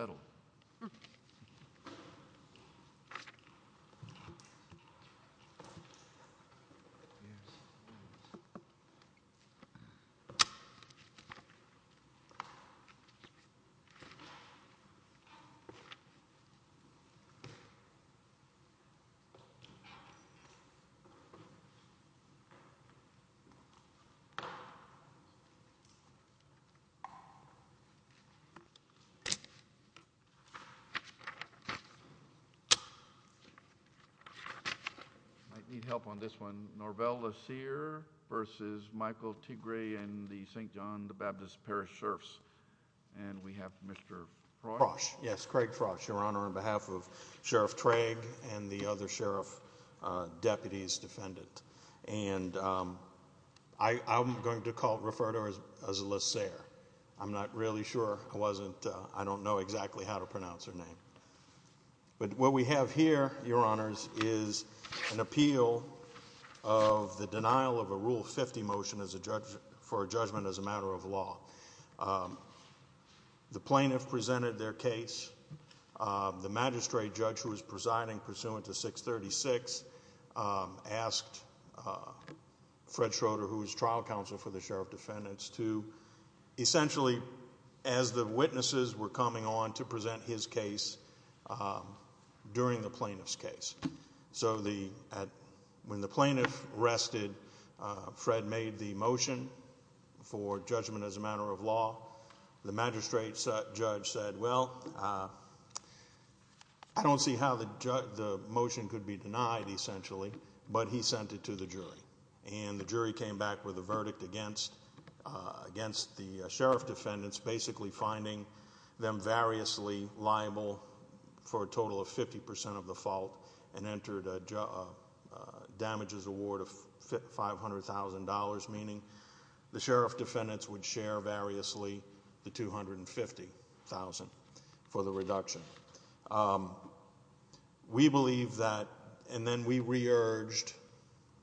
I need help on this one. Norvel Lassere v. Michael Tigray and the St. John the Baptist Parish Sheriffs. And we have Mr. Frosch. Yes, Craig Frosch, Your Honor, on behalf of Sheriff Traig and the other sheriff deputies defendant. And I'm going to refer to him as Lassere. I'm not really sure. I wasn't, I don't know exactly how to pronounce her name. But what we have here, Your Honors, is an appeal of the denial of a Rule 50 motion for a judgment as a matter of law. The plaintiff presented their case. The magistrate judge who was presiding pursuant to 636 asked Fred Schroeder who was trial counsel for the sheriff defendants to essentially, as the witnesses were coming on to present his case during the plaintiff's case. So when the plaintiff rested, Fred made the motion for judgment as a matter of law. The magistrate judge said, well, I don't see how the motion could be denied, essentially. But he sent it to the jury. And the jury came back with a verdict against the sheriff defendants, basically finding them variously liable for a total of 50% of the fault and entered a damages award of $500,000, meaning the sheriff defendants would share variously the $250,000 for the reduction. We believe that, and then we re-urged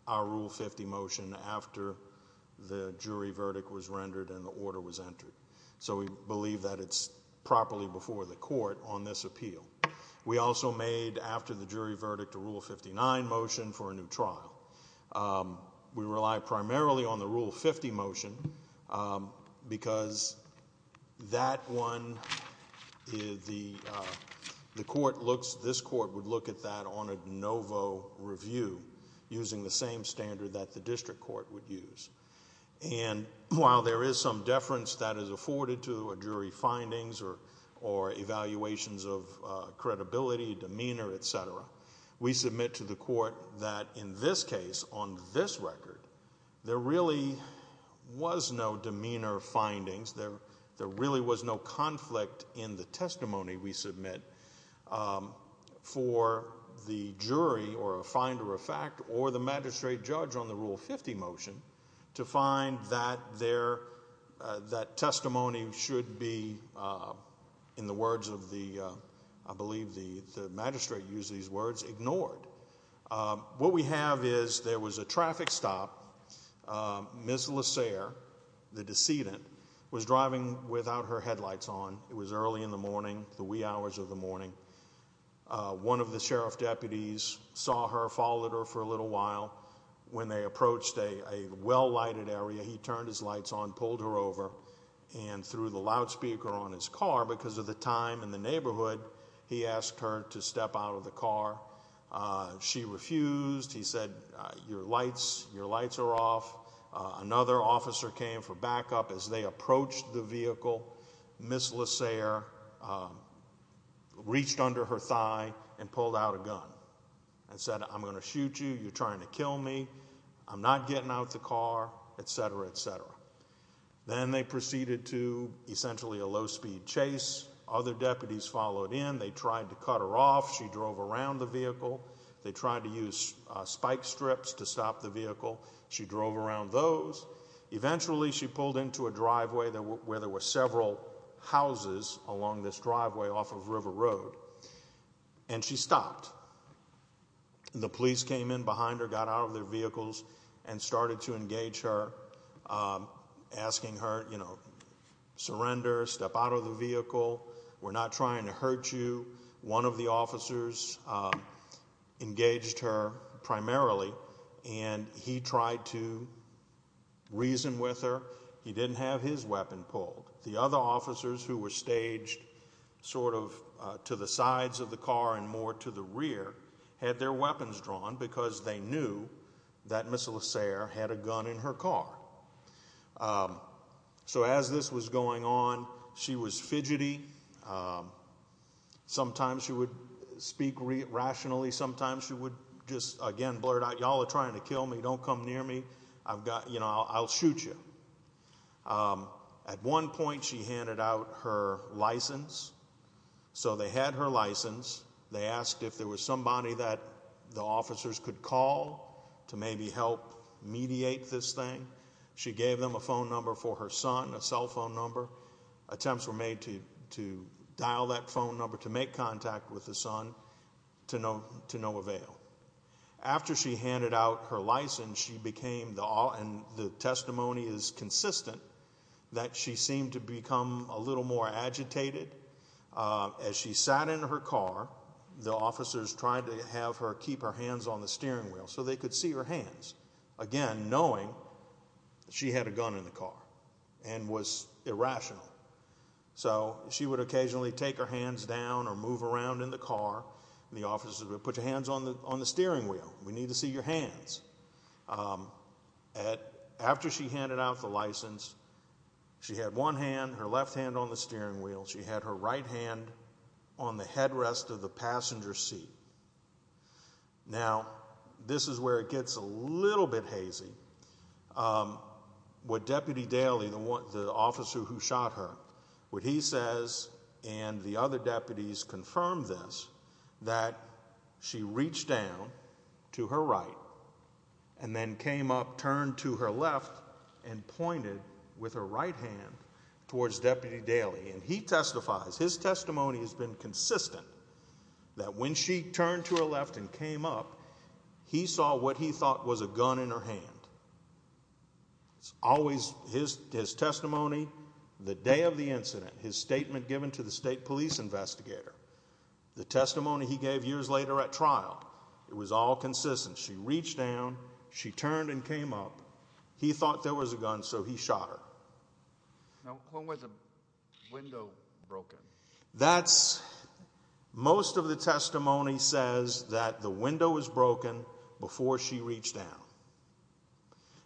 our Rule 50 motion after the jury verdict was rendered and the order was entered. So we believe that it's properly before the trial. We rely primarily on the Rule 50 motion because that one, the court looks, this court would look at that on a de novo review using the same standard that the district court would use. And while there is some deference that is afforded to jury findings or evaluations of credibility, demeanor, et cetera, we submit to the court that in this case, on this record, there really was no demeanor findings. There really was no conflict in the testimony we submit for the jury or a finder of fact or the magistrate judge on the Rule 50 motion to find that there, that testimony should be, in the words of the, I believe the magistrate used these words, ignored. What we have is there was a traffic stop. Ms. LeSere, the decedent, was driving without her headlights on. It was early in the morning, the wee hours of the morning. One of the sheriff deputies saw her, followed her for a little while. When they approached a well-lighted area, he turned his lights on, pulled her over, and through the loudspeaker on his car, because of the time in the neighborhood, he asked her to step out of the car. She refused. He said, your lights, your lights are off. Another officer came for backup as they approached the vehicle. Ms. LeSere reached under her thigh and pulled out a gun and said, I'm going to shoot you. You're trying to kill me. I'm not getting out the car, etc., etc. Then they proceeded to, essentially, a low-speed chase. Other deputies followed in. They tried to cut her off. She drove around the vehicle. They tried to use spike strips to stop the vehicle. She drove around those. Eventually, she pulled into a driveway where there were several houses along this driveway off of River Road, and she stopped. The police came in behind her, got out of their vehicles, and started to engage her, asking her, you know, surrender, step out of the vehicle. We're not trying to hurt you. One of the officers engaged her primarily, and he tried to reason with her. He didn't have his weapon pulled. The other officers, who were staged sort of to the sides of the car and more to the rear, had their weapons drawn, because they knew that Ms. LeSere had a gun in her car. So, as this was going on, she was fidgety. Sometimes she would speak rationally. Sometimes she would just, again, blurt out, y'all are trying to kill me. Don't come near me. I've got, you know, I'll shoot you. At one point, she handed out her license. So, they had her license. They asked if there was somebody that the officers could call to maybe help mediate this thing. She gave them a phone number for her son, a cell phone number. Attempts were made to dial that phone number to make contact with the son, to no avail. After she handed out her license, she became, and the testimony is consistent, that she seemed to become a little more agitated. As she sat in her car, the officers tried to have her keep her hands on the steering wheel, so they could see her hands. Again, knowing she had a gun in the car and was irrational. So, she would occasionally take her hands down or move around in the car. The officers would put your hands on the steering wheel. We need to see your hands. After she handed out the license, she had one hand, her left hand on the steering wheel. She had her right hand on the headrest of the passenger seat. Now, this is where it gets a little bit hazy. What Deputy Daly, the officer who shot her, what he says, and the other deputies confirmed this, that she reached down to her right and then came up, turned to her left, and pointed with her right hand towards Deputy Daly. And he testifies, his testimony has been consistent, that when she turned to her left and came up, he saw what he thought was a gun in her hand. It's always, his testimony, the day of the incident, his statement given to the state police investigator, the testimony he gave years later at trial, it was all consistent. She reached down, she turned and came up, he thought there was a gun, so he shot her. Now, when was the window broken? That's, most of the testimony says that the window was broken before she reached down.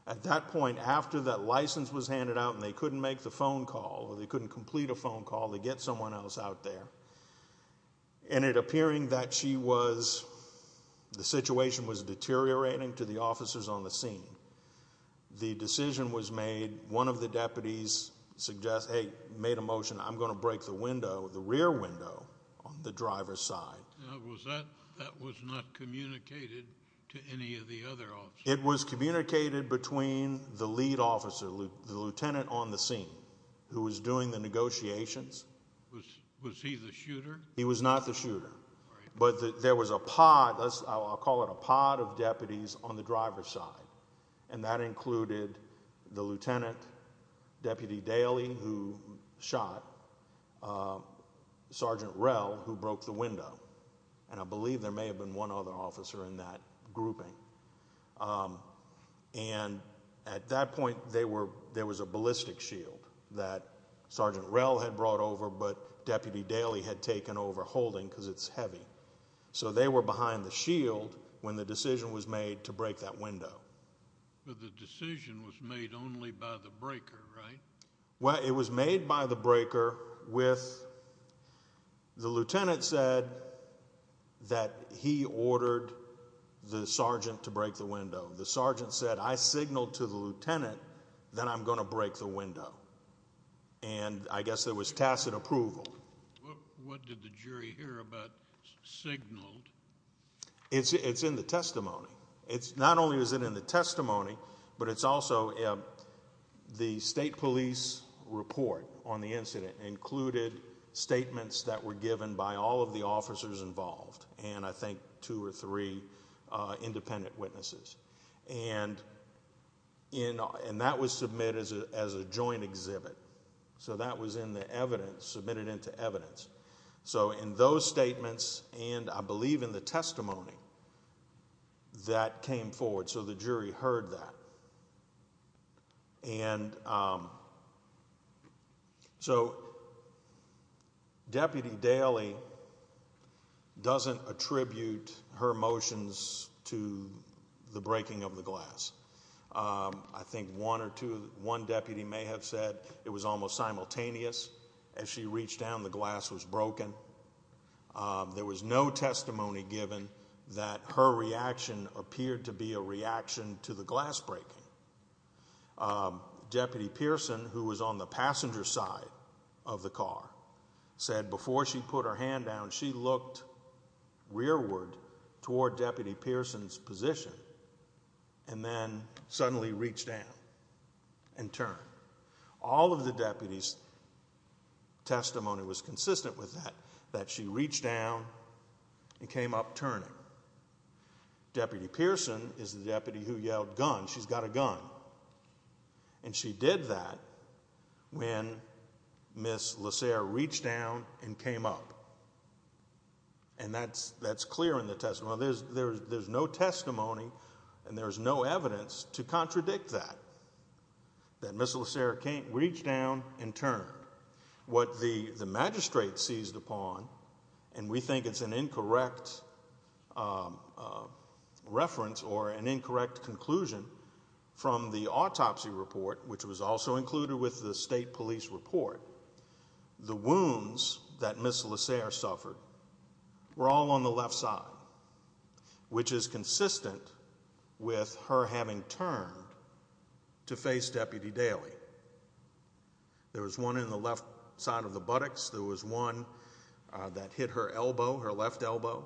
At that point, after that license was handed out and they couldn't make the phone call, or they couldn't complete a phone call to get someone else out there, and it appearing that she was, the situation was deteriorating to the officers on the scene. The decision was made, one of the deputies suggested, hey, made a motion, I'm going to break the window, the rear window, on the driver's side. Now, was that, that was not communicated to any of the other officers? It was communicated between the lead officer, the lieutenant on the scene, who was doing the negotiations. Was, was he the shooter? He was not the shooter, but there was a pod, I'll call it a pod of deputies on the driver's side, and that included the lieutenant, Deputy Daley, who shot Sergeant Rell, who broke the window, and I believe there may have been one other officer in that grouping, and at that point, there was a ballistic shield that Sergeant Rell had been overholding because it's heavy, so they were behind the shield when the decision was made to break that window. But the decision was made only by the breaker, right? Well, it was made by the breaker with, the lieutenant said that he ordered the sergeant to break the window. The sergeant said, I signaled to the lieutenant that I'm going to break the window, and I guess there was tacit approval. What did the jury hear about signaled? It's, it's in the testimony. It's, not only is it in the testimony, but it's also, the state police report on the incident included statements that were given by all of the officers involved, and I think two or three independent witnesses. And in, and that was submitted as a joint exhibit, so that was in the evidence, submitted into evidence. So in those statements, and I believe in the testimony, that came forward, so the jury heard that. And, so Deputy Daly doesn't attribute her motions to the breaking of the glass. I think one or two, one deputy may have said it was almost simultaneous. As she reached down, the glass was broken. There was no testimony given that her reaction appeared to be a reaction to the glass breaking. Deputy Pearson, who was on the passenger side of the car, said before she put her hand down, she looked rearward toward Deputy Pearson's position, and then suddenly reached down and turned. All of the deputies' testimony was consistent with that, that she reached down and came up turning. Deputy Pearson is the deputy who yelled, gun, she's got a gun. And she did that when Ms. LeSere reached down and came up. And that's, that's clear in the testimony. There's no testimony, and there's no evidence to contradict that, that Ms. LeSere can't reach down and turn. What the magistrate seized upon, and we think it's an incorrect reference or an incorrect conclusion, from the autopsy report, which was also included with the state police report, the wounds that Ms. LeSere suffered were all on the left side, which is consistent with her having turned to face Deputy Daley. There was one in the left side of the buttocks. There was one that hit her elbow, her left elbow.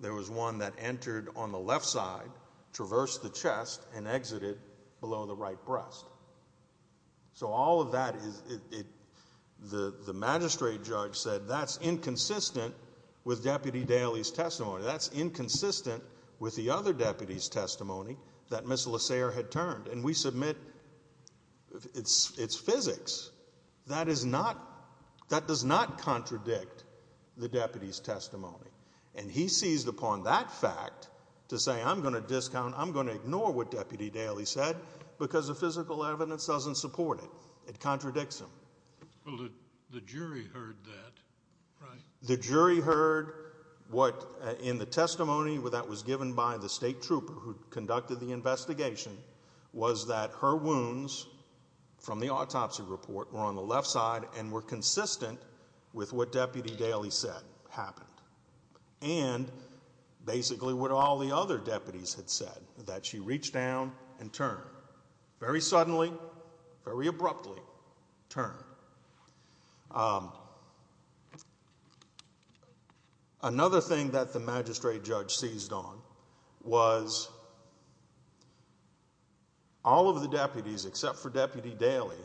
There was one that entered on the left side, traversed the chest, and exited below the right breast. So all of that is, the magistrate judge said that's inconsistent with Deputy Daley's testimony. That's inconsistent with the other deputy's testimony that Ms. LeSere had turned. And we submit it's physics. That is not, that does not contradict the deputy's testimony. And he seized upon that fact to say I'm going to discount, I'm going to ignore what Deputy Daley said because the physical evidence doesn't support it. It contradicts him. Well, the jury heard that, right? The jury heard what, in the testimony that was given by the state trooper who conducted the investigation, was that her wounds, from the autopsy report, were on the left side and were consistent with what Deputy Daley said happened. And basically what all the other deputies had said, that she reached down and turned. Very suddenly, very abruptly, turned. Another thing that the magistrate judge seized on was all of the deputies, except for Deputy Daley,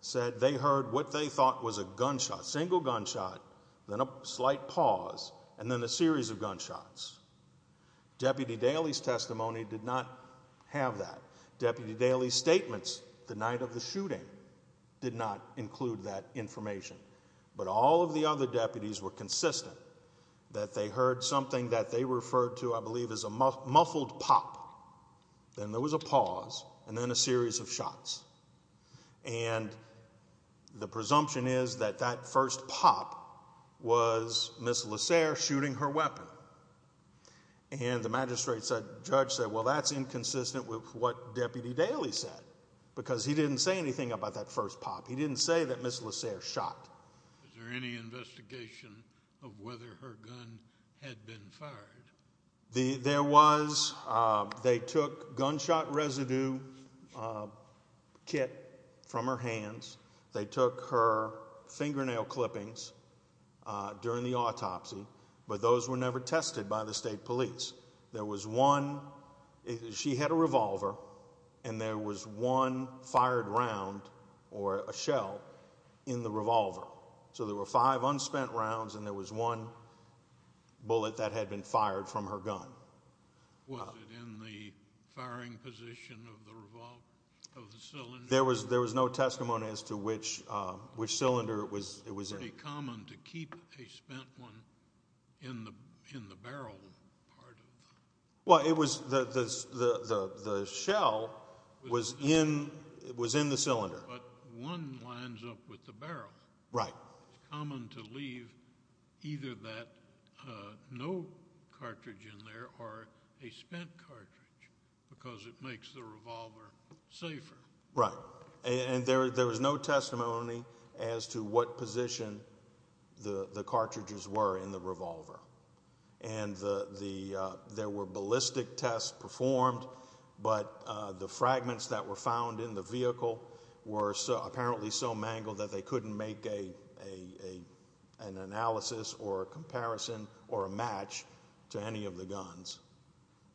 said they heard what they thought was a gunshot, single gunshot, then a slight pause, and then a series of gunshots. Deputy Daley's testimony did not have that. Deputy Daley's statements the night of the shooting did not include that information. But all of the other deputies were consistent that they heard something that they referred to, I believe, as a muffled pop. Then there was a pause, and then a series of shots. And the presumption is that that first pop was Ms. LeSere shooting her weapon. And the magistrate judge said, well, that's inconsistent with what Deputy Daley said, because he didn't say anything about that first pop. He didn't say that Ms. LeSere shot. Was there any investigation of whether her gun had been fired? There was. They took gunshot residue kit from her hands. They took her fingernail clippings during the autopsy, but those were never tested by the state police. There was one, she had a revolver, and there was one fired round, or a shell, in the revolver. So there were five unspent rounds, and there was one bullet that had been fired from her gun. Was it in the firing position of the cylinder? There was no testimony as to which cylinder it was in. Was it common to keep a spent one in the barrel part of the gun? Well, the shell was in the cylinder. But one lines up with the barrel. Right. It's common to leave either that no cartridge in there, or a spent cartridge, because it makes the revolver safer. Right. And there was no testimony as to what position the cartridges were in the revolver. And there were ballistic tests performed, but the fragments that were found in the vehicle were apparently so mangled that they couldn't make an analysis or a comparison or a match to any of the guns,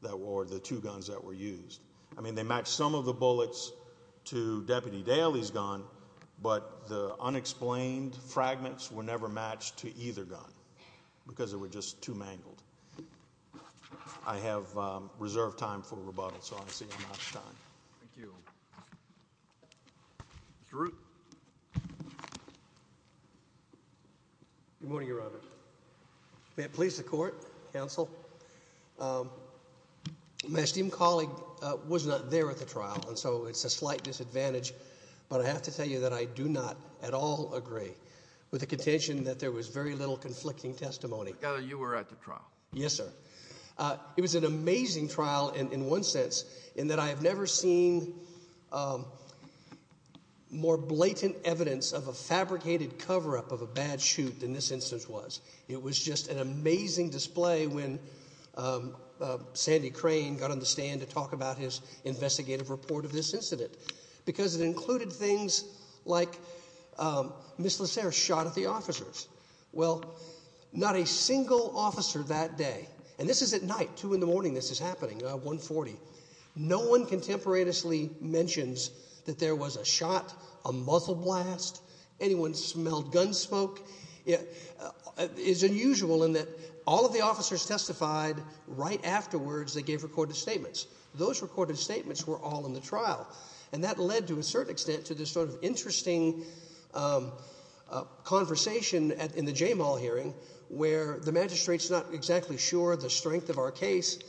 or the two guns that were used. I mean, they matched some of the bullets to Deputy Daly's gun, but the unexplained fragments were never matched to either gun, because they were just too mangled. I have reserved time for rebuttal, so I'll see you next time. Thank you. Mr. Root. Good morning, Your Honor. May it please the Court, Counsel. My esteemed colleague was not there at the trial, and so it's a slight disadvantage, but I have to tell you that I do not at all agree with the contention that there was very little conflicting testimony. You were at the trial. Yes, sir. It was an amazing trial in one sense, in that I have never seen more blatant evidence of a fabricated cover-up of a bad shoot than this instance was. It was just an amazing display when Sandy Crane got on the stand to talk about his investigative report of this incident, because it included things like Ms. LeSere shot at the officers. Well, not a single officer that day, and this is at night, 2 in the morning this is happening, 140, no one contemporaneously mentions that there was a shot, a muzzle blast, anyone smelled gun smoke. It's unusual in that all of the officers testified right afterwards they gave recorded statements. Those recorded statements were all in the trial, and that led, to a certain extent, to this sort of interesting conversation in the J-Mall hearing where the magistrate's not exactly sure the strength of our case,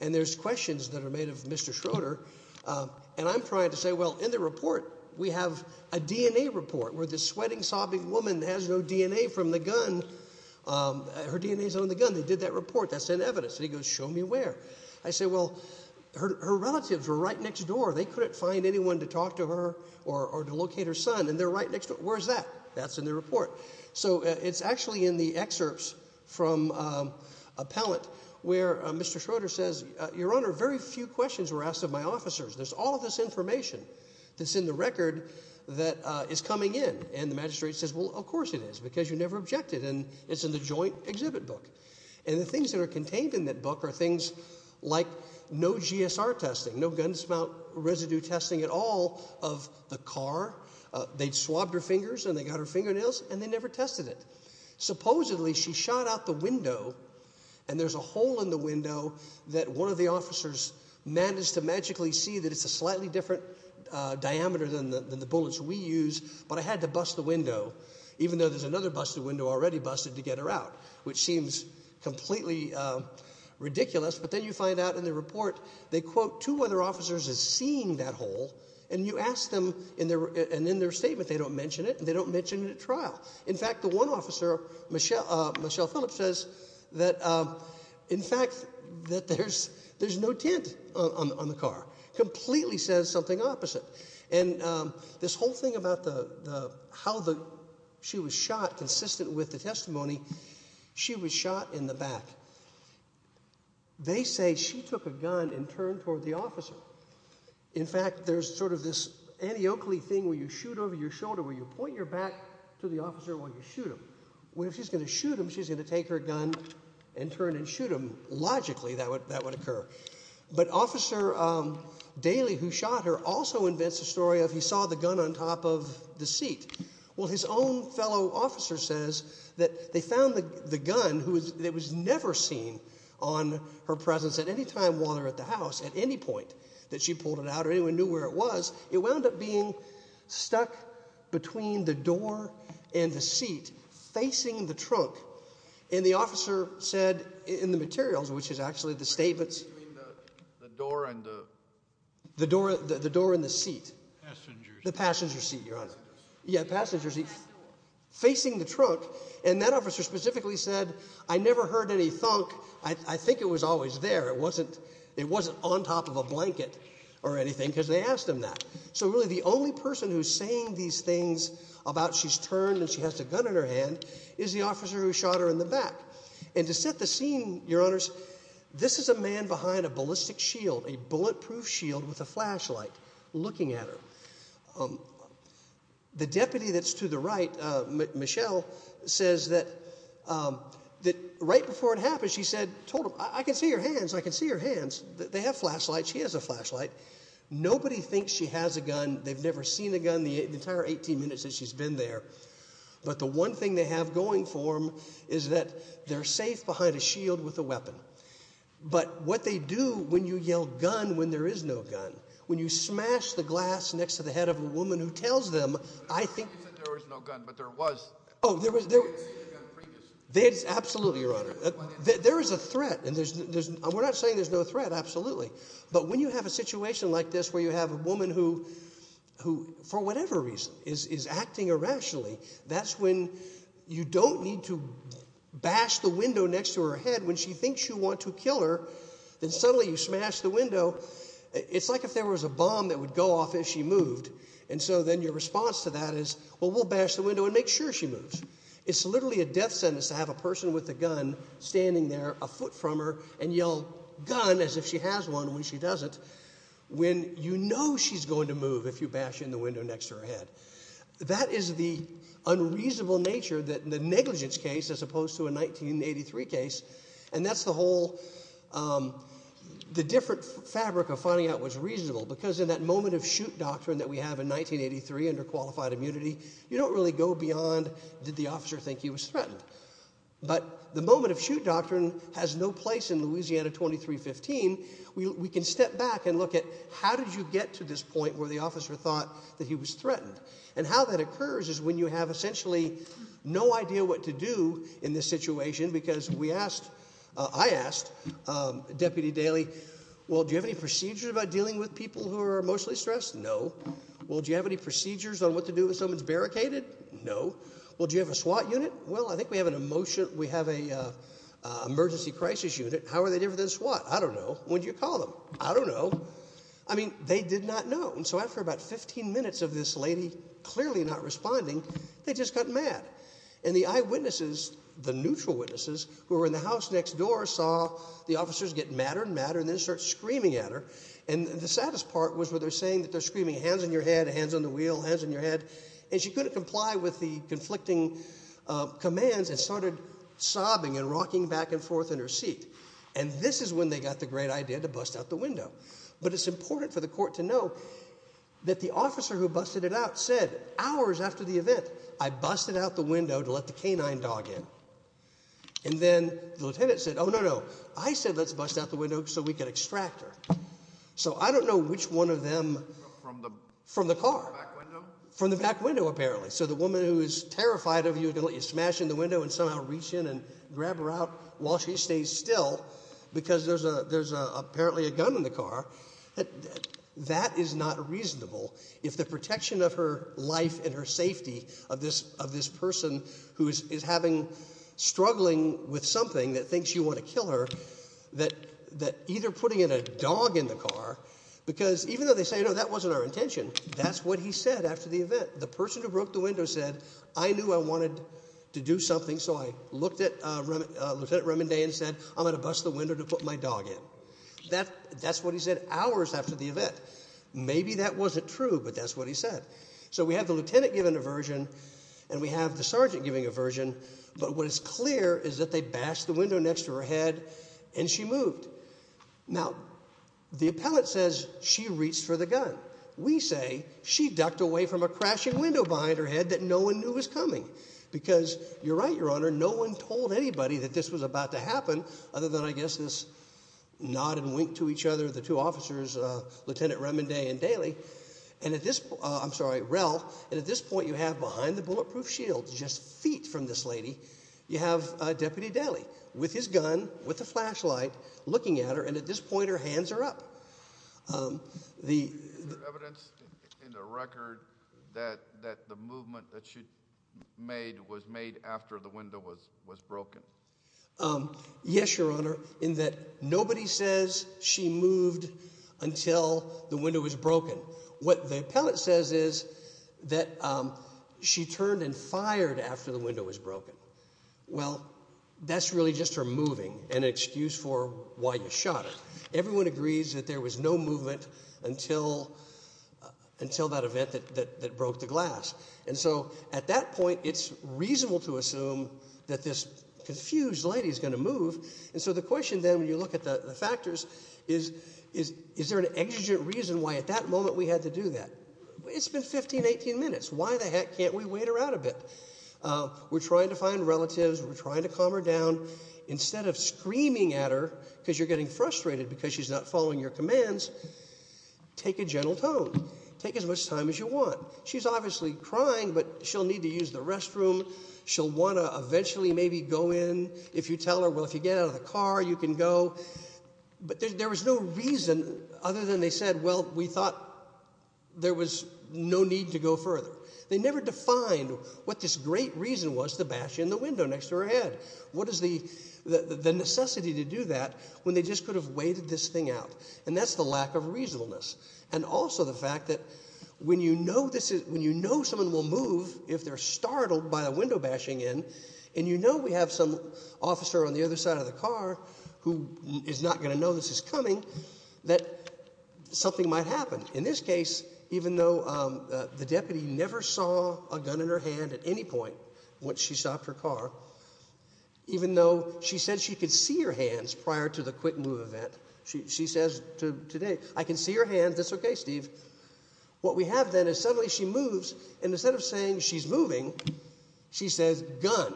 and there's questions that are made of Mr. Schroeder, and I'm trying to say, well, in the report we have a DNA report where this sweating, sobbing woman has no DNA from the gun. Her DNA's on the gun. They did that report. That's in evidence, and he goes, show me where. I say, well, her relatives were right next door. They couldn't find anyone to talk to her or to locate her son, and they're right next door. Where's that? That's in the report. So it's actually in the excerpts from Appellant where Mr. Schroeder says, Your Honor, very few questions were asked of my officers. There's all of this information that's in the record that is coming in, and the magistrate says, well, of course it is, because you never objected, and it's in the joint exhibit book, and the things that are contained in that book are things like no GSR testing, no gun smelt residue testing at all of the car. They'd swabbed her fingers, and they got her fingernails, and they never tested it. Supposedly, she shot out the window, and there's a hole in the window that one of the officers managed to magically see that it's a slightly different diameter than the bullets we use, but I had to bust the window, even though there's another busted window already busted to get her out, which seems completely ridiculous, but then you find out in the report, they quote two other officers as seeing that hole, and you ask them, and in their statement, they don't mention it, and they don't mention it at trial. In fact, the one officer, Michelle Phillips, says that, in fact, that there's no tint on the car. Completely says something opposite. And this whole thing about how she was shot is not consistent with the testimony. She was shot in the back. They say she took a gun and turned toward the officer. In fact, there's sort of this anti-Oakley thing where you shoot over your shoulder, where you point your back to the officer while you shoot him, where if she's going to shoot him, she's going to take her gun and turn and shoot him. Logically, that would occur. But Officer Daly, who shot her, also invents a story of he saw the gun on top of the seat. Well, his own fellow officer says that they found the gun that was never seen on her presence at any time while they were at the house, at any point that she pulled it out or anyone knew where it was. It wound up being stuck between the door and the seat, facing the trunk. And the officer said in the materials, which is actually the statements... The door and the... The door and the seat. Passenger seat. The passenger seat, Your Honor. Yeah, passenger seat. Facing the trunk. And that officer specifically said, I never heard any thunk. I think it was always there. It wasn't on top of a blanket or anything because they asked him that. So really, the only person who's saying these things about she's turned and she has the gun in her hand is the officer who shot her in the back. And to set the scene, Your Honors, this is a man behind a ballistic shield, a bulletproof shield with a flashlight looking at her. The deputy that's to the right, Michelle, says that right before it happened, she said, told him, I can see your hands. I can see your hands. They have flashlights. She has a flashlight. Nobody thinks she has a gun. They've never seen a gun the entire 18 minutes that she's been there. But the one thing they have going for them is that they're safe behind a shield with a weapon. But what they do when you yell gun when there is no gun, when you smash the glass next to the head of a woman who tells them, I think... You said there was no gun, but there was. Oh, there was... They had seen a gun previously. Absolutely, Your Honor. There is a threat. And we're not saying there's no threat, absolutely. But when you have a situation like this where you have a woman who, for whatever reason, is acting irrationally, that's when you don't need to bash the window next to her head. When she thinks you want to kill her, then suddenly you smash the window. It's like if there was a bomb that would go off if she moved. And so then your response to that is, well, we'll bash the window and make sure she moves. It's literally a death sentence to have a person with a gun standing there a foot from her and yell gun as if she has one when she doesn't when you know she's going to move if you bash in the window next to her head. That is the unreasonable nature, the negligence case as opposed to a 1983 case. And that's the whole... The different fabric of finding out what's reasonable because in that moment-of-shoot doctrine that we have in 1983 under qualified immunity, you don't really go beyond, did the officer think he was threatened? But the moment-of-shoot doctrine has no place in Louisiana 2315. We can step back and look at, how did you get to this point where the officer thought that he was threatened? And how that occurs is when you have essentially no idea what to do in this situation because we asked, I asked Deputy Daley, well, do you have any procedures about dealing with people who are emotionally stressed? No. Well, do you have any procedures on what to do if someone's barricaded? No. Well, do you have a SWAT unit? Well, I think we have an emergency crisis unit. How are they different than SWAT? I don't know. What do you call them? I don't know. I mean, they did not know. And so after about 15 minutes of this lady clearly not responding, they just got mad. And the eyewitnesses, the neutral witnesses, who were in the house next door saw the officers get madder and madder and then start screaming at her. And the saddest part was where they're saying that they're screaming, hands on your head, hands on the wheel, hands on your head. And she couldn't comply with the conflicting commands and started sobbing and rocking back and forth in her seat. And this is when they got the great idea to bust out the window. But it's important for the court to know that the officer who busted it out said, hours after the event, I busted out the window to let the canine dog in. And then the lieutenant said, oh, no, no. I said let's bust out the window so we can extract her. So I don't know which one of them from the car. From the back window? From the back window, apparently. So the woman who is terrified of you is going to let you smash in the window and somehow reach in and grab her out while she stays still because there's apparently a gun in the car. That is not reasonable. If the protection of her life and her safety of this person who is struggling with something that thinks you want to kill her, that either putting in a dog in the car, because even though they say, no, that wasn't our intention, that's what he said after the event. The person who broke the window said, I knew I wanted to do something, so I looked at Lieutenant Remondee and said, I'm going to bust the window to put my dog in. That's what he said hours after the event. Maybe that wasn't true, but that's what he said. So we have the lieutenant giving aversion and we have the sergeant giving aversion, but what is clear is that they bashed the window next to her head and she moved. Now, the appellate says she reached for the gun. We say she ducked away from a crashing window behind her head that no one knew was coming because you're right, Your Honor, no one told anybody that this was about to happen other than, I guess, this nod and wink to each other, the two officers, Lieutenant Remondee and Daly, and at this point, I'm sorry, Rel, and at this point you have behind the bulletproof shield, just feet from this lady, you have Deputy Daly with his gun, with a flashlight, looking at her, and at this point her hands are up. Is there evidence in the record that the movement that she made was made after the window was broken? Yes, Your Honor, in that nobody says she moved until the window was broken. What the appellate says is that she turned and fired after the window was broken. Well, that's really just her moving, an excuse for why you shot her. Everyone agrees that there was no movement until that event that broke the glass, and so at that point it's reasonable to assume that this confused lady is going to move, and so the question then, when you look at the factors, is there an exigent reason why at that moment we had to do that? It's been 15, 18 minutes. Why the heck can't we wait her out a bit? We're trying to find relatives. We're trying to calm her down. Instead of screaming at her because you're getting frustrated because she's not following your commands, take a gentle tone. Take as much time as you want. She's obviously crying, but she'll need to use the restroom. She'll want to eventually maybe go in. If you tell her, well, if you get out of the car, you can go, but there was no reason other than they said, well, we thought there was no need to go further. They never defined what this great reason was to bash in the window next to her head. What is the necessity to do that when they just could have waited this thing out? And that's the lack of reasonableness, and also the fact that when you know someone will move if they're startled by the window bashing in, and you know we have some officer on the other side of the car who is not going to know this is coming, that something might happen. In this case, even though the deputy never saw a gun in her hand at any point once she stopped her car, even though she said she could see her hands prior to the quick move event, she says today, I can see your hands. That's okay, Steve. What we have then is suddenly she moves, and instead of saying she's moving, she says gun.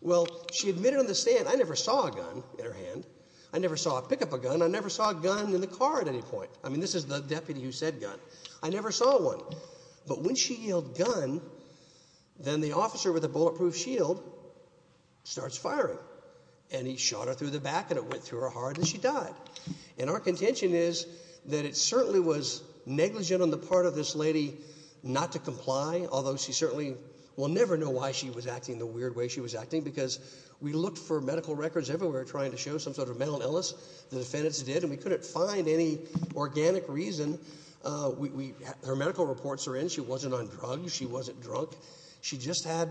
Well, she admitted on the stand, I never saw a gun in her hand. I never saw her pick up a gun. I never saw a gun in the car at any point. I mean, this is the deputy who said gun. I never saw one. But when she yelled gun, then the officer with the bulletproof shield starts firing, and he shot her through the back, and it went through her heart, and she died. And our contention is that it certainly was negligent on the part of this lady not to comply, although she certainly will never know why she was acting the weird way she was acting because we looked for medical records everywhere trying to show some sort of mental illness. The defendants did, and we couldn't find any organic reason. Her medical reports are in. She wasn't on drugs. She wasn't drunk. She just had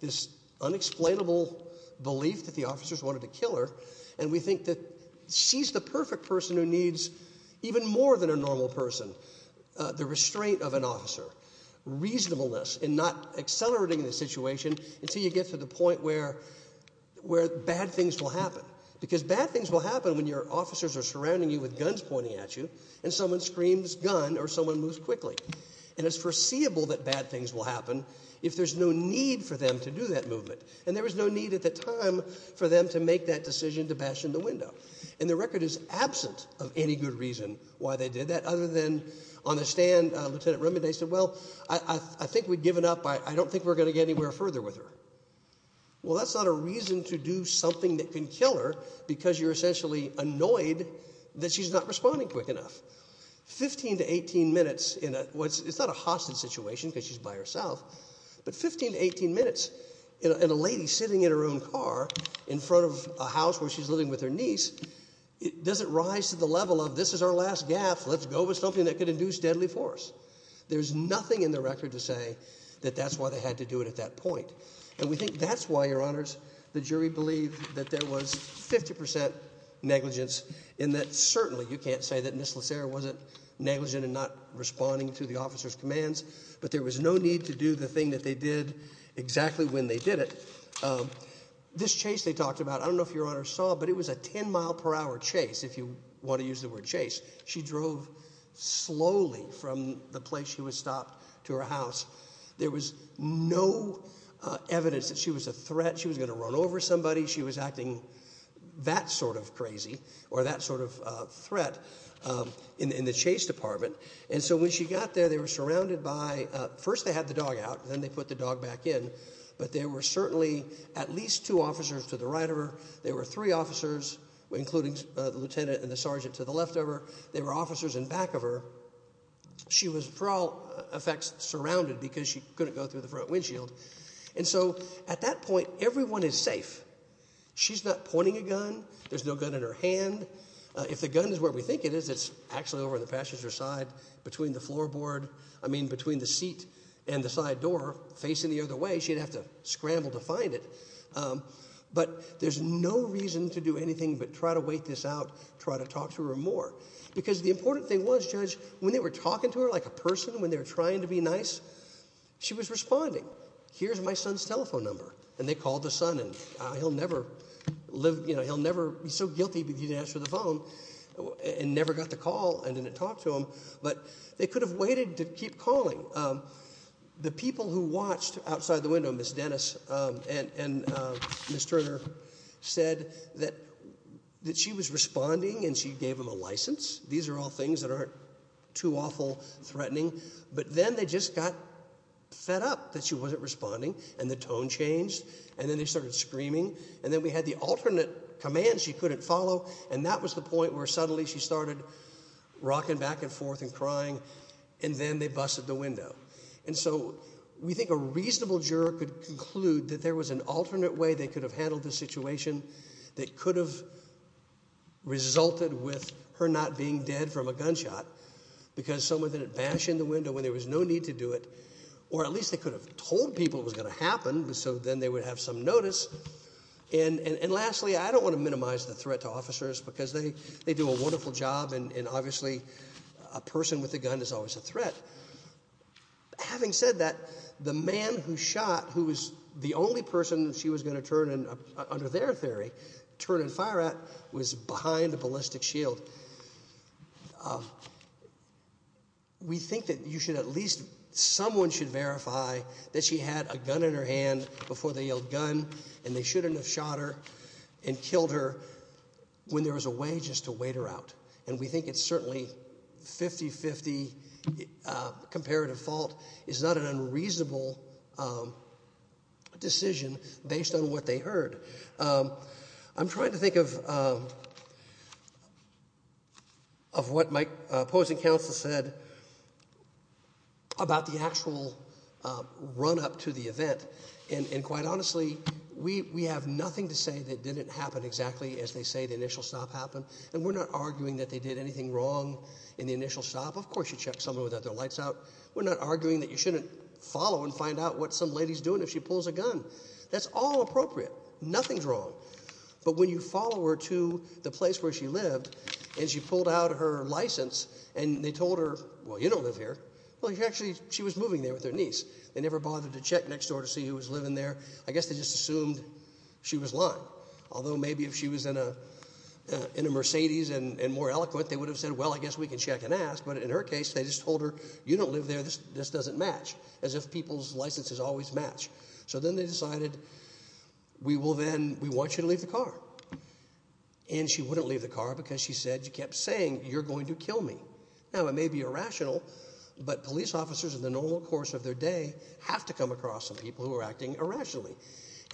this unexplainable belief that the officers wanted to kill her, and we think that she's the perfect person who needs even more than a normal person, the restraint of an officer, reasonableness in not accelerating the situation until you get to the point where bad things will happen because bad things will happen when your officers are surrounding you with guns pointing at you, and someone screams gun, or someone moves quickly. And it's foreseeable that bad things will happen if there's no need for them to do that movement, and there was no need at the time for them to make that decision to bash in the window. And the record is absent of any good reason why they did that other than on the stand, Lieutenant Rubin, when they said, well, I think we've given up. I don't think we're going to get anywhere further with her. Well, that's not a reason to do something that can kill her because you're essentially annoyed that she's not responding quick enough. 15 to 18 minutes in a... It's not a hostage situation because she's by herself, but 15 to 18 minutes in a lady sitting in her own car in front of a house where she's living with her niece, does it rise to the level of, this is our last gaffe, let's go with something that can induce deadly force? There's nothing in the record to say that that's why they had to do it at that point. And we think that's why, Your Honours, the jury believed that there was 50% negligence in that certainly you can't say that Ms. Lacerre wasn't negligent in not responding to the officer's commands, but there was no need to do the thing that they did exactly when they did it. This chase they talked about, I don't know if Your Honours saw, but it was a 10-mile-per-hour chase, if you want to use the word chase. She drove slowly from the place she was stopped to her house. There was no evidence that she was a threat. She was going to run over somebody. She was acting that sort of crazy or that sort of threat in the chase department. And so when she got there, they were surrounded by... First they had the dog out, then they put the dog back in, but there were certainly at least two officers to the right of her, there were three officers, including the lieutenant and the sergeant to the left of her, there were officers in back of her. She was, for all effects, surrounded because she couldn't go through the front windshield. And so at that point, everyone is safe. She's not pointing a gun, there's no gun in her hand. If the gun is where we think it is, it's actually over on the passenger side between the floorboard, I mean between the seat and the side door, facing the other way, she'd have to scramble to find it. But there's no reason to do anything but try to wait this out, try to talk to her more. Because the important thing was, Judge, when they were talking to her like a person, when they were trying to be nice, she was responding. Here's my son's telephone number. And they called the son, and he'll never live... You know, he'll never be so guilty if he didn't answer the phone and never got the call and didn't talk to him. But they could have waited to keep calling. The people who watched outside the window, Miss Dennis and Miss Turner, said that she was responding and she gave them a licence. These are all things that aren't too awful, threatening. But then they just got fed up that she wasn't responding, and the tone changed, and then they started screaming. And then we had the alternate commands she couldn't follow, and that was the point where suddenly she started rocking back and forth and crying, and then they busted the window. And so we think a reasonable juror could conclude that there was an alternate way they could have handled this situation that could have resulted with her not being dead from a gunshot, because someone didn't bash in the window when there was no need to do it, or at least they could have told people it was going to happen, so then they would have some notice. And lastly, I don't want to minimise the threat to officers because they do a wonderful job, and obviously a person with a gun is always a threat. Having said that, the man who shot, who was the only person she was going to turn and, under their theory, turn and fire at, was behind a ballistic shield. We think that you should at least, someone should verify that she had a gun in her hand before they yelled, gun, and they shouldn't have shot her and killed her when there was a way just to wait her out. And we think it's certainly 50-50 comparative fault. It's not an unreasonable decision based on what they heard. I'm trying to think of what my opposing counsel said about the actual run-up to the event. And quite honestly, we have nothing to say that didn't happen exactly as they say the initial stop happened, and we're not arguing that they did anything wrong in the initial stop. Of course you check someone without their lights out. We're not arguing that you shouldn't follow and find out what some lady's doing if she pulls a gun. That's all appropriate. Nothing's wrong. But when you follow her to the place where she lived and she pulled out her licence and they told her, well, you don't live here. Well, actually, she was moving there with her niece. They never bothered to check next door to see who was living there. I guess they just assumed she was lying, although maybe if she was in a Mercedes and more eloquent, they would have said, well, I guess we can check and ask. But in her case, they just told her, you don't live there. This doesn't match, as if people's licences always match. So then they decided, we want you to leave the car. And she wouldn't leave the car because she kept saying, you're going to kill me. Now, it may be irrational, but police officers, in the normal course of their day, have to come across some people who are acting irrationally.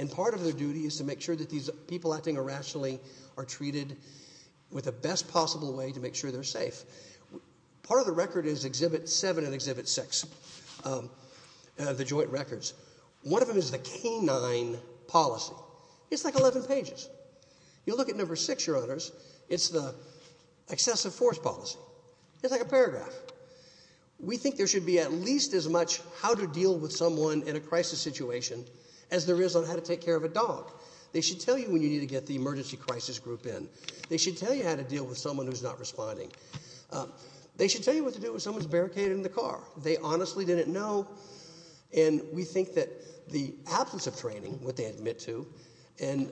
And part of their duty is to make sure that these people acting irrationally are treated with the best possible way to make sure they're safe. Part of the record is Exhibit 7 and Exhibit 6, the joint records. One of them is the canine policy. It's like 11 pages. You look at No. 6, Your Honours, it's the excessive force policy. It's like a paragraph. We think there should be at least as much how to deal with someone in a crisis situation as there is on how to take care of a dog. They should tell you when you need to get the emergency crisis group in. They should tell you how to deal with someone who's not responding. They should tell you what to do when someone's barricaded in the car. They honestly didn't know. And we think that the absence of training, what they admit to, and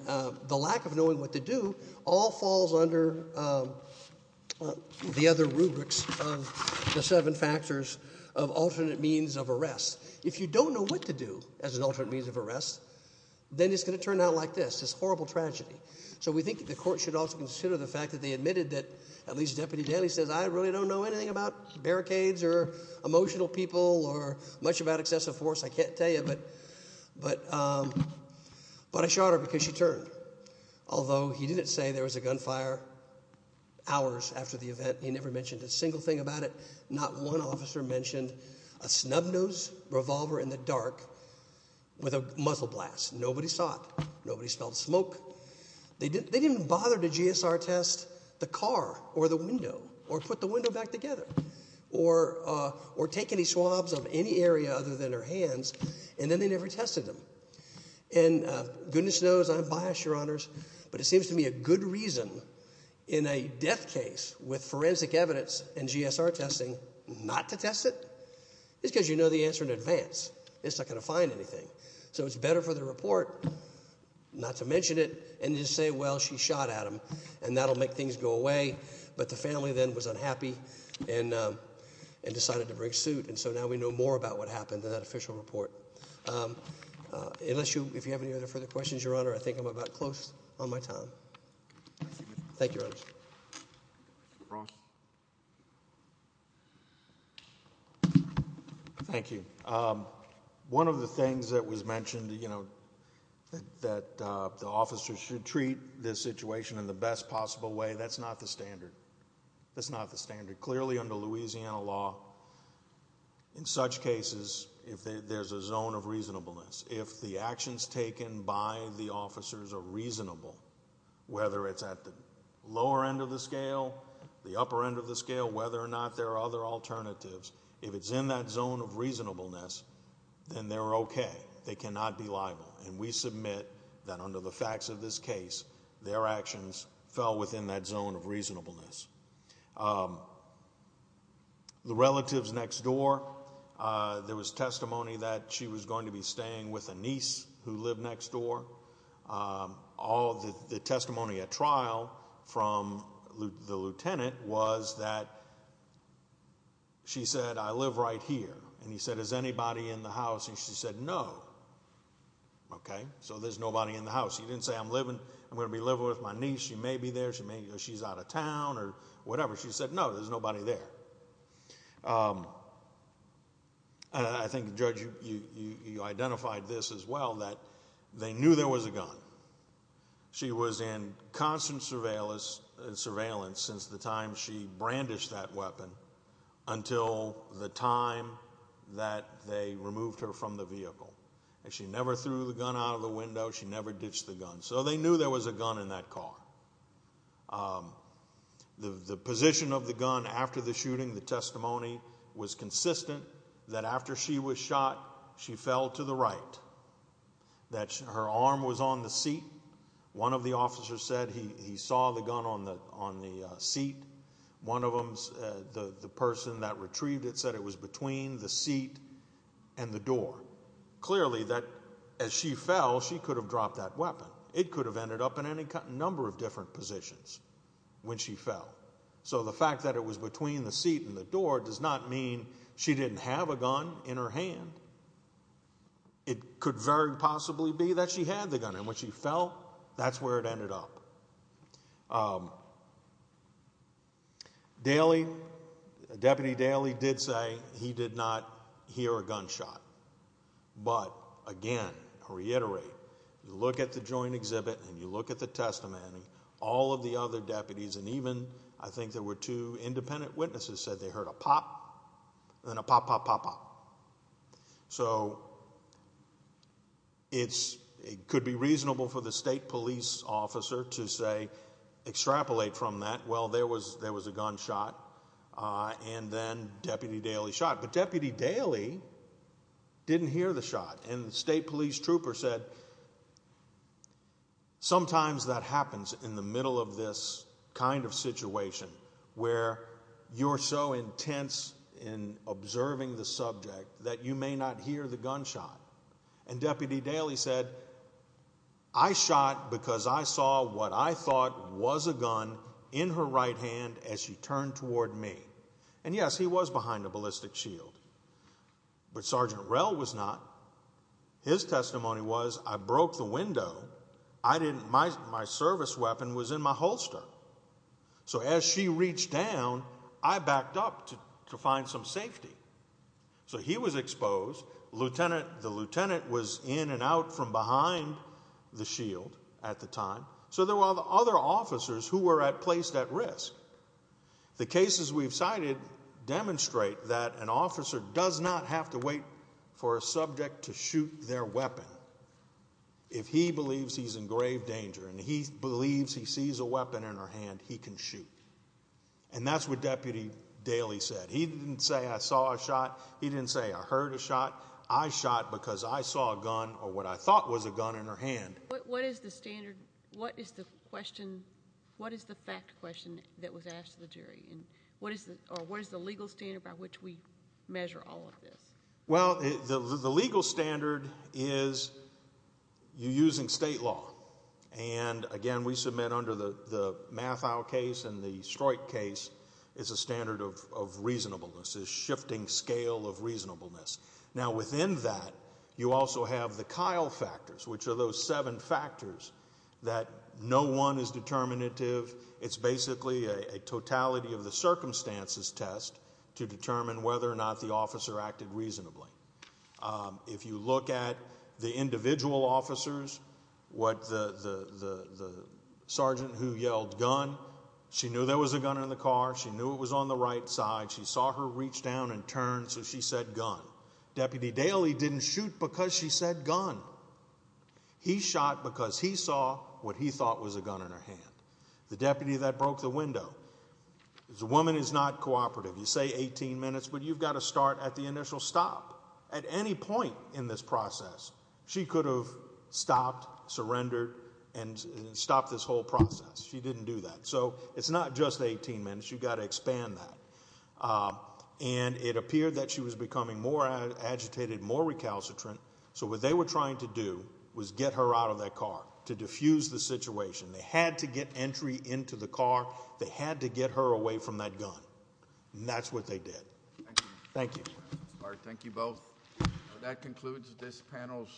the lack of knowing what to do all falls under the other rubrics of the seven factors of alternate means of arrest. If you don't know what to do as an alternate means of arrest, then it's going to turn out like this, this horrible tragedy. So we think the court should also consider the fact that they admitted that at least Deputy Danny says, I really don't know anything about barricades or emotional people or much about excessive force. I can't tell you, but I shot her because she turned. Although he didn't say there was a gunfire hours after the event. He never mentioned a single thing about it. Not one officer mentioned a snub-nosed revolver in the dark with a muzzle blast. Nobody saw it. Nobody smelled smoke. They didn't bother to GSR test the car or the window or put the window back together or take any swabs of any area other than her hands, and then they never tested them. And goodness knows I'm biased, Your Honors, but it seems to me a good reason in a death case with forensic evidence and GSR testing not to test it is because you know the answer in advance. It's not going to find anything. So it's better for the report not to mention it and just say, well, she shot Adam, and that will make things go away. But the family then was unhappy and decided to bring suit, and so now we know more about what happened in that official report. Unless you have any other further questions, Your Honor, I think I'm about close on my time. Thank you, Your Honors. Thank you. One of the things that was mentioned, you know, that the officers should treat this situation in the best possible way, that's not the standard. That's not the standard. Clearly under Louisiana law, in such cases, there's a zone of reasonableness. If the actions taken by the officers are reasonable, whether it's at the lower end of the scale, the upper end of the scale, whether or not there are other alternatives, if it's in that zone of reasonableness, then they're okay. They cannot be liable, and we submit that under the facts of this case, their actions fell within that zone of reasonableness. The relatives next door, there was testimony that she was going to be staying with a niece who lived next door. The testimony at trial from the lieutenant was that she said, I live right here, and he said, Is anybody in the house? And she said, No. Okay, so there's nobody in the house. He didn't say, I'm going to be living with my niece. She may be there. She's out of town or whatever. She said, No, there's nobody there. I think, Judge, you identified this as well, that they knew there was a gun. She was in constant surveillance since the time she brandished that weapon until the time that they removed her from the vehicle. She never threw the gun out of the window. She never ditched the gun. So they knew there was a gun in that car. The position of the gun after the shooting, the testimony was consistent that after she was shot, she fell to the right, that her arm was on the seat. One of the officers said he saw the gun on the seat. One of them, the person that retrieved it, said it was between the seat and the door. So clearly that as she fell, she could have dropped that weapon. It could have ended up in any number of different positions when she fell. So the fact that it was between the seat and the door does not mean she didn't have a gun in her hand. It could very possibly be that she had the gun, and when she fell, that's where it ended up. Deputy Daley did say he did not hear a gunshot. But again, I'll reiterate, look at the joint exhibit and you look at the testimony. All of the other deputies, and even I think there were two independent witnesses, said they heard a pop and then a pop, pop, pop, pop. So it could be reasonable for the state police officer to, say, extrapolate from that. Well, there was a gunshot and then Deputy Daley shot, but Deputy Daley didn't hear the shot. And the state police trooper said sometimes that happens in the middle of this kind of situation where you're so intense in observing the subject that you may not hear the gunshot. And Deputy Daley said, I shot because I saw what I thought was a gun in her right hand as she turned toward me. And yes, he was behind a ballistic shield, but Sergeant Rell was not. His testimony was, I broke the window. My service weapon was in my holster. So as she reached down, I backed up to find some safety. So he was exposed. The lieutenant was in and out from behind the shield at the time. So there were other officers who were placed at risk. The cases we've cited demonstrate that an officer does not have to wait for a subject to shoot their weapon. If he believes he's in grave danger and he believes he sees a weapon in her hand, he can shoot. And that's what Deputy Daley said. He didn't say, I saw a shot. He didn't say, I heard a shot. I shot because I saw a gun or what I thought was a gun in her hand. What is the standard? What is the question? What is the fact question that was asked to the jury? What is the legal standard by which we measure all of this? Well, the legal standard is you're using state law. And, again, we submit under the Matthau case and the Stroit case, it's a standard of reasonableness, a shifting scale of reasonableness. Now, within that, you also have the Kyle factors, which are those seven factors that no one is determinative. It's basically a totality of the circumstances test to determine whether or not the officer acted reasonably. If you look at the individual officers, the sergeant who yelled gun, she knew there was a gun in the car. She knew it was on the right side. She saw her reach down and turn, so she said gun. Deputy Daley didn't shoot because she said gun. He shot because he saw what he thought was a gun in her hand. The deputy that broke the window. A woman is not cooperative. You say 18 minutes, but you've got to start at the initial stop. At any point in this process, she could have stopped, surrendered, and stopped this whole process. She didn't do that. So it's not just 18 minutes. You've got to expand that. And it appeared that she was becoming more agitated, more recalcitrant, so what they were trying to do was get her out of that car to diffuse the situation. They had to get entry into the car. They had to get her away from that gun. And that's what they did. Thank you. Thank you both. That concludes this panel.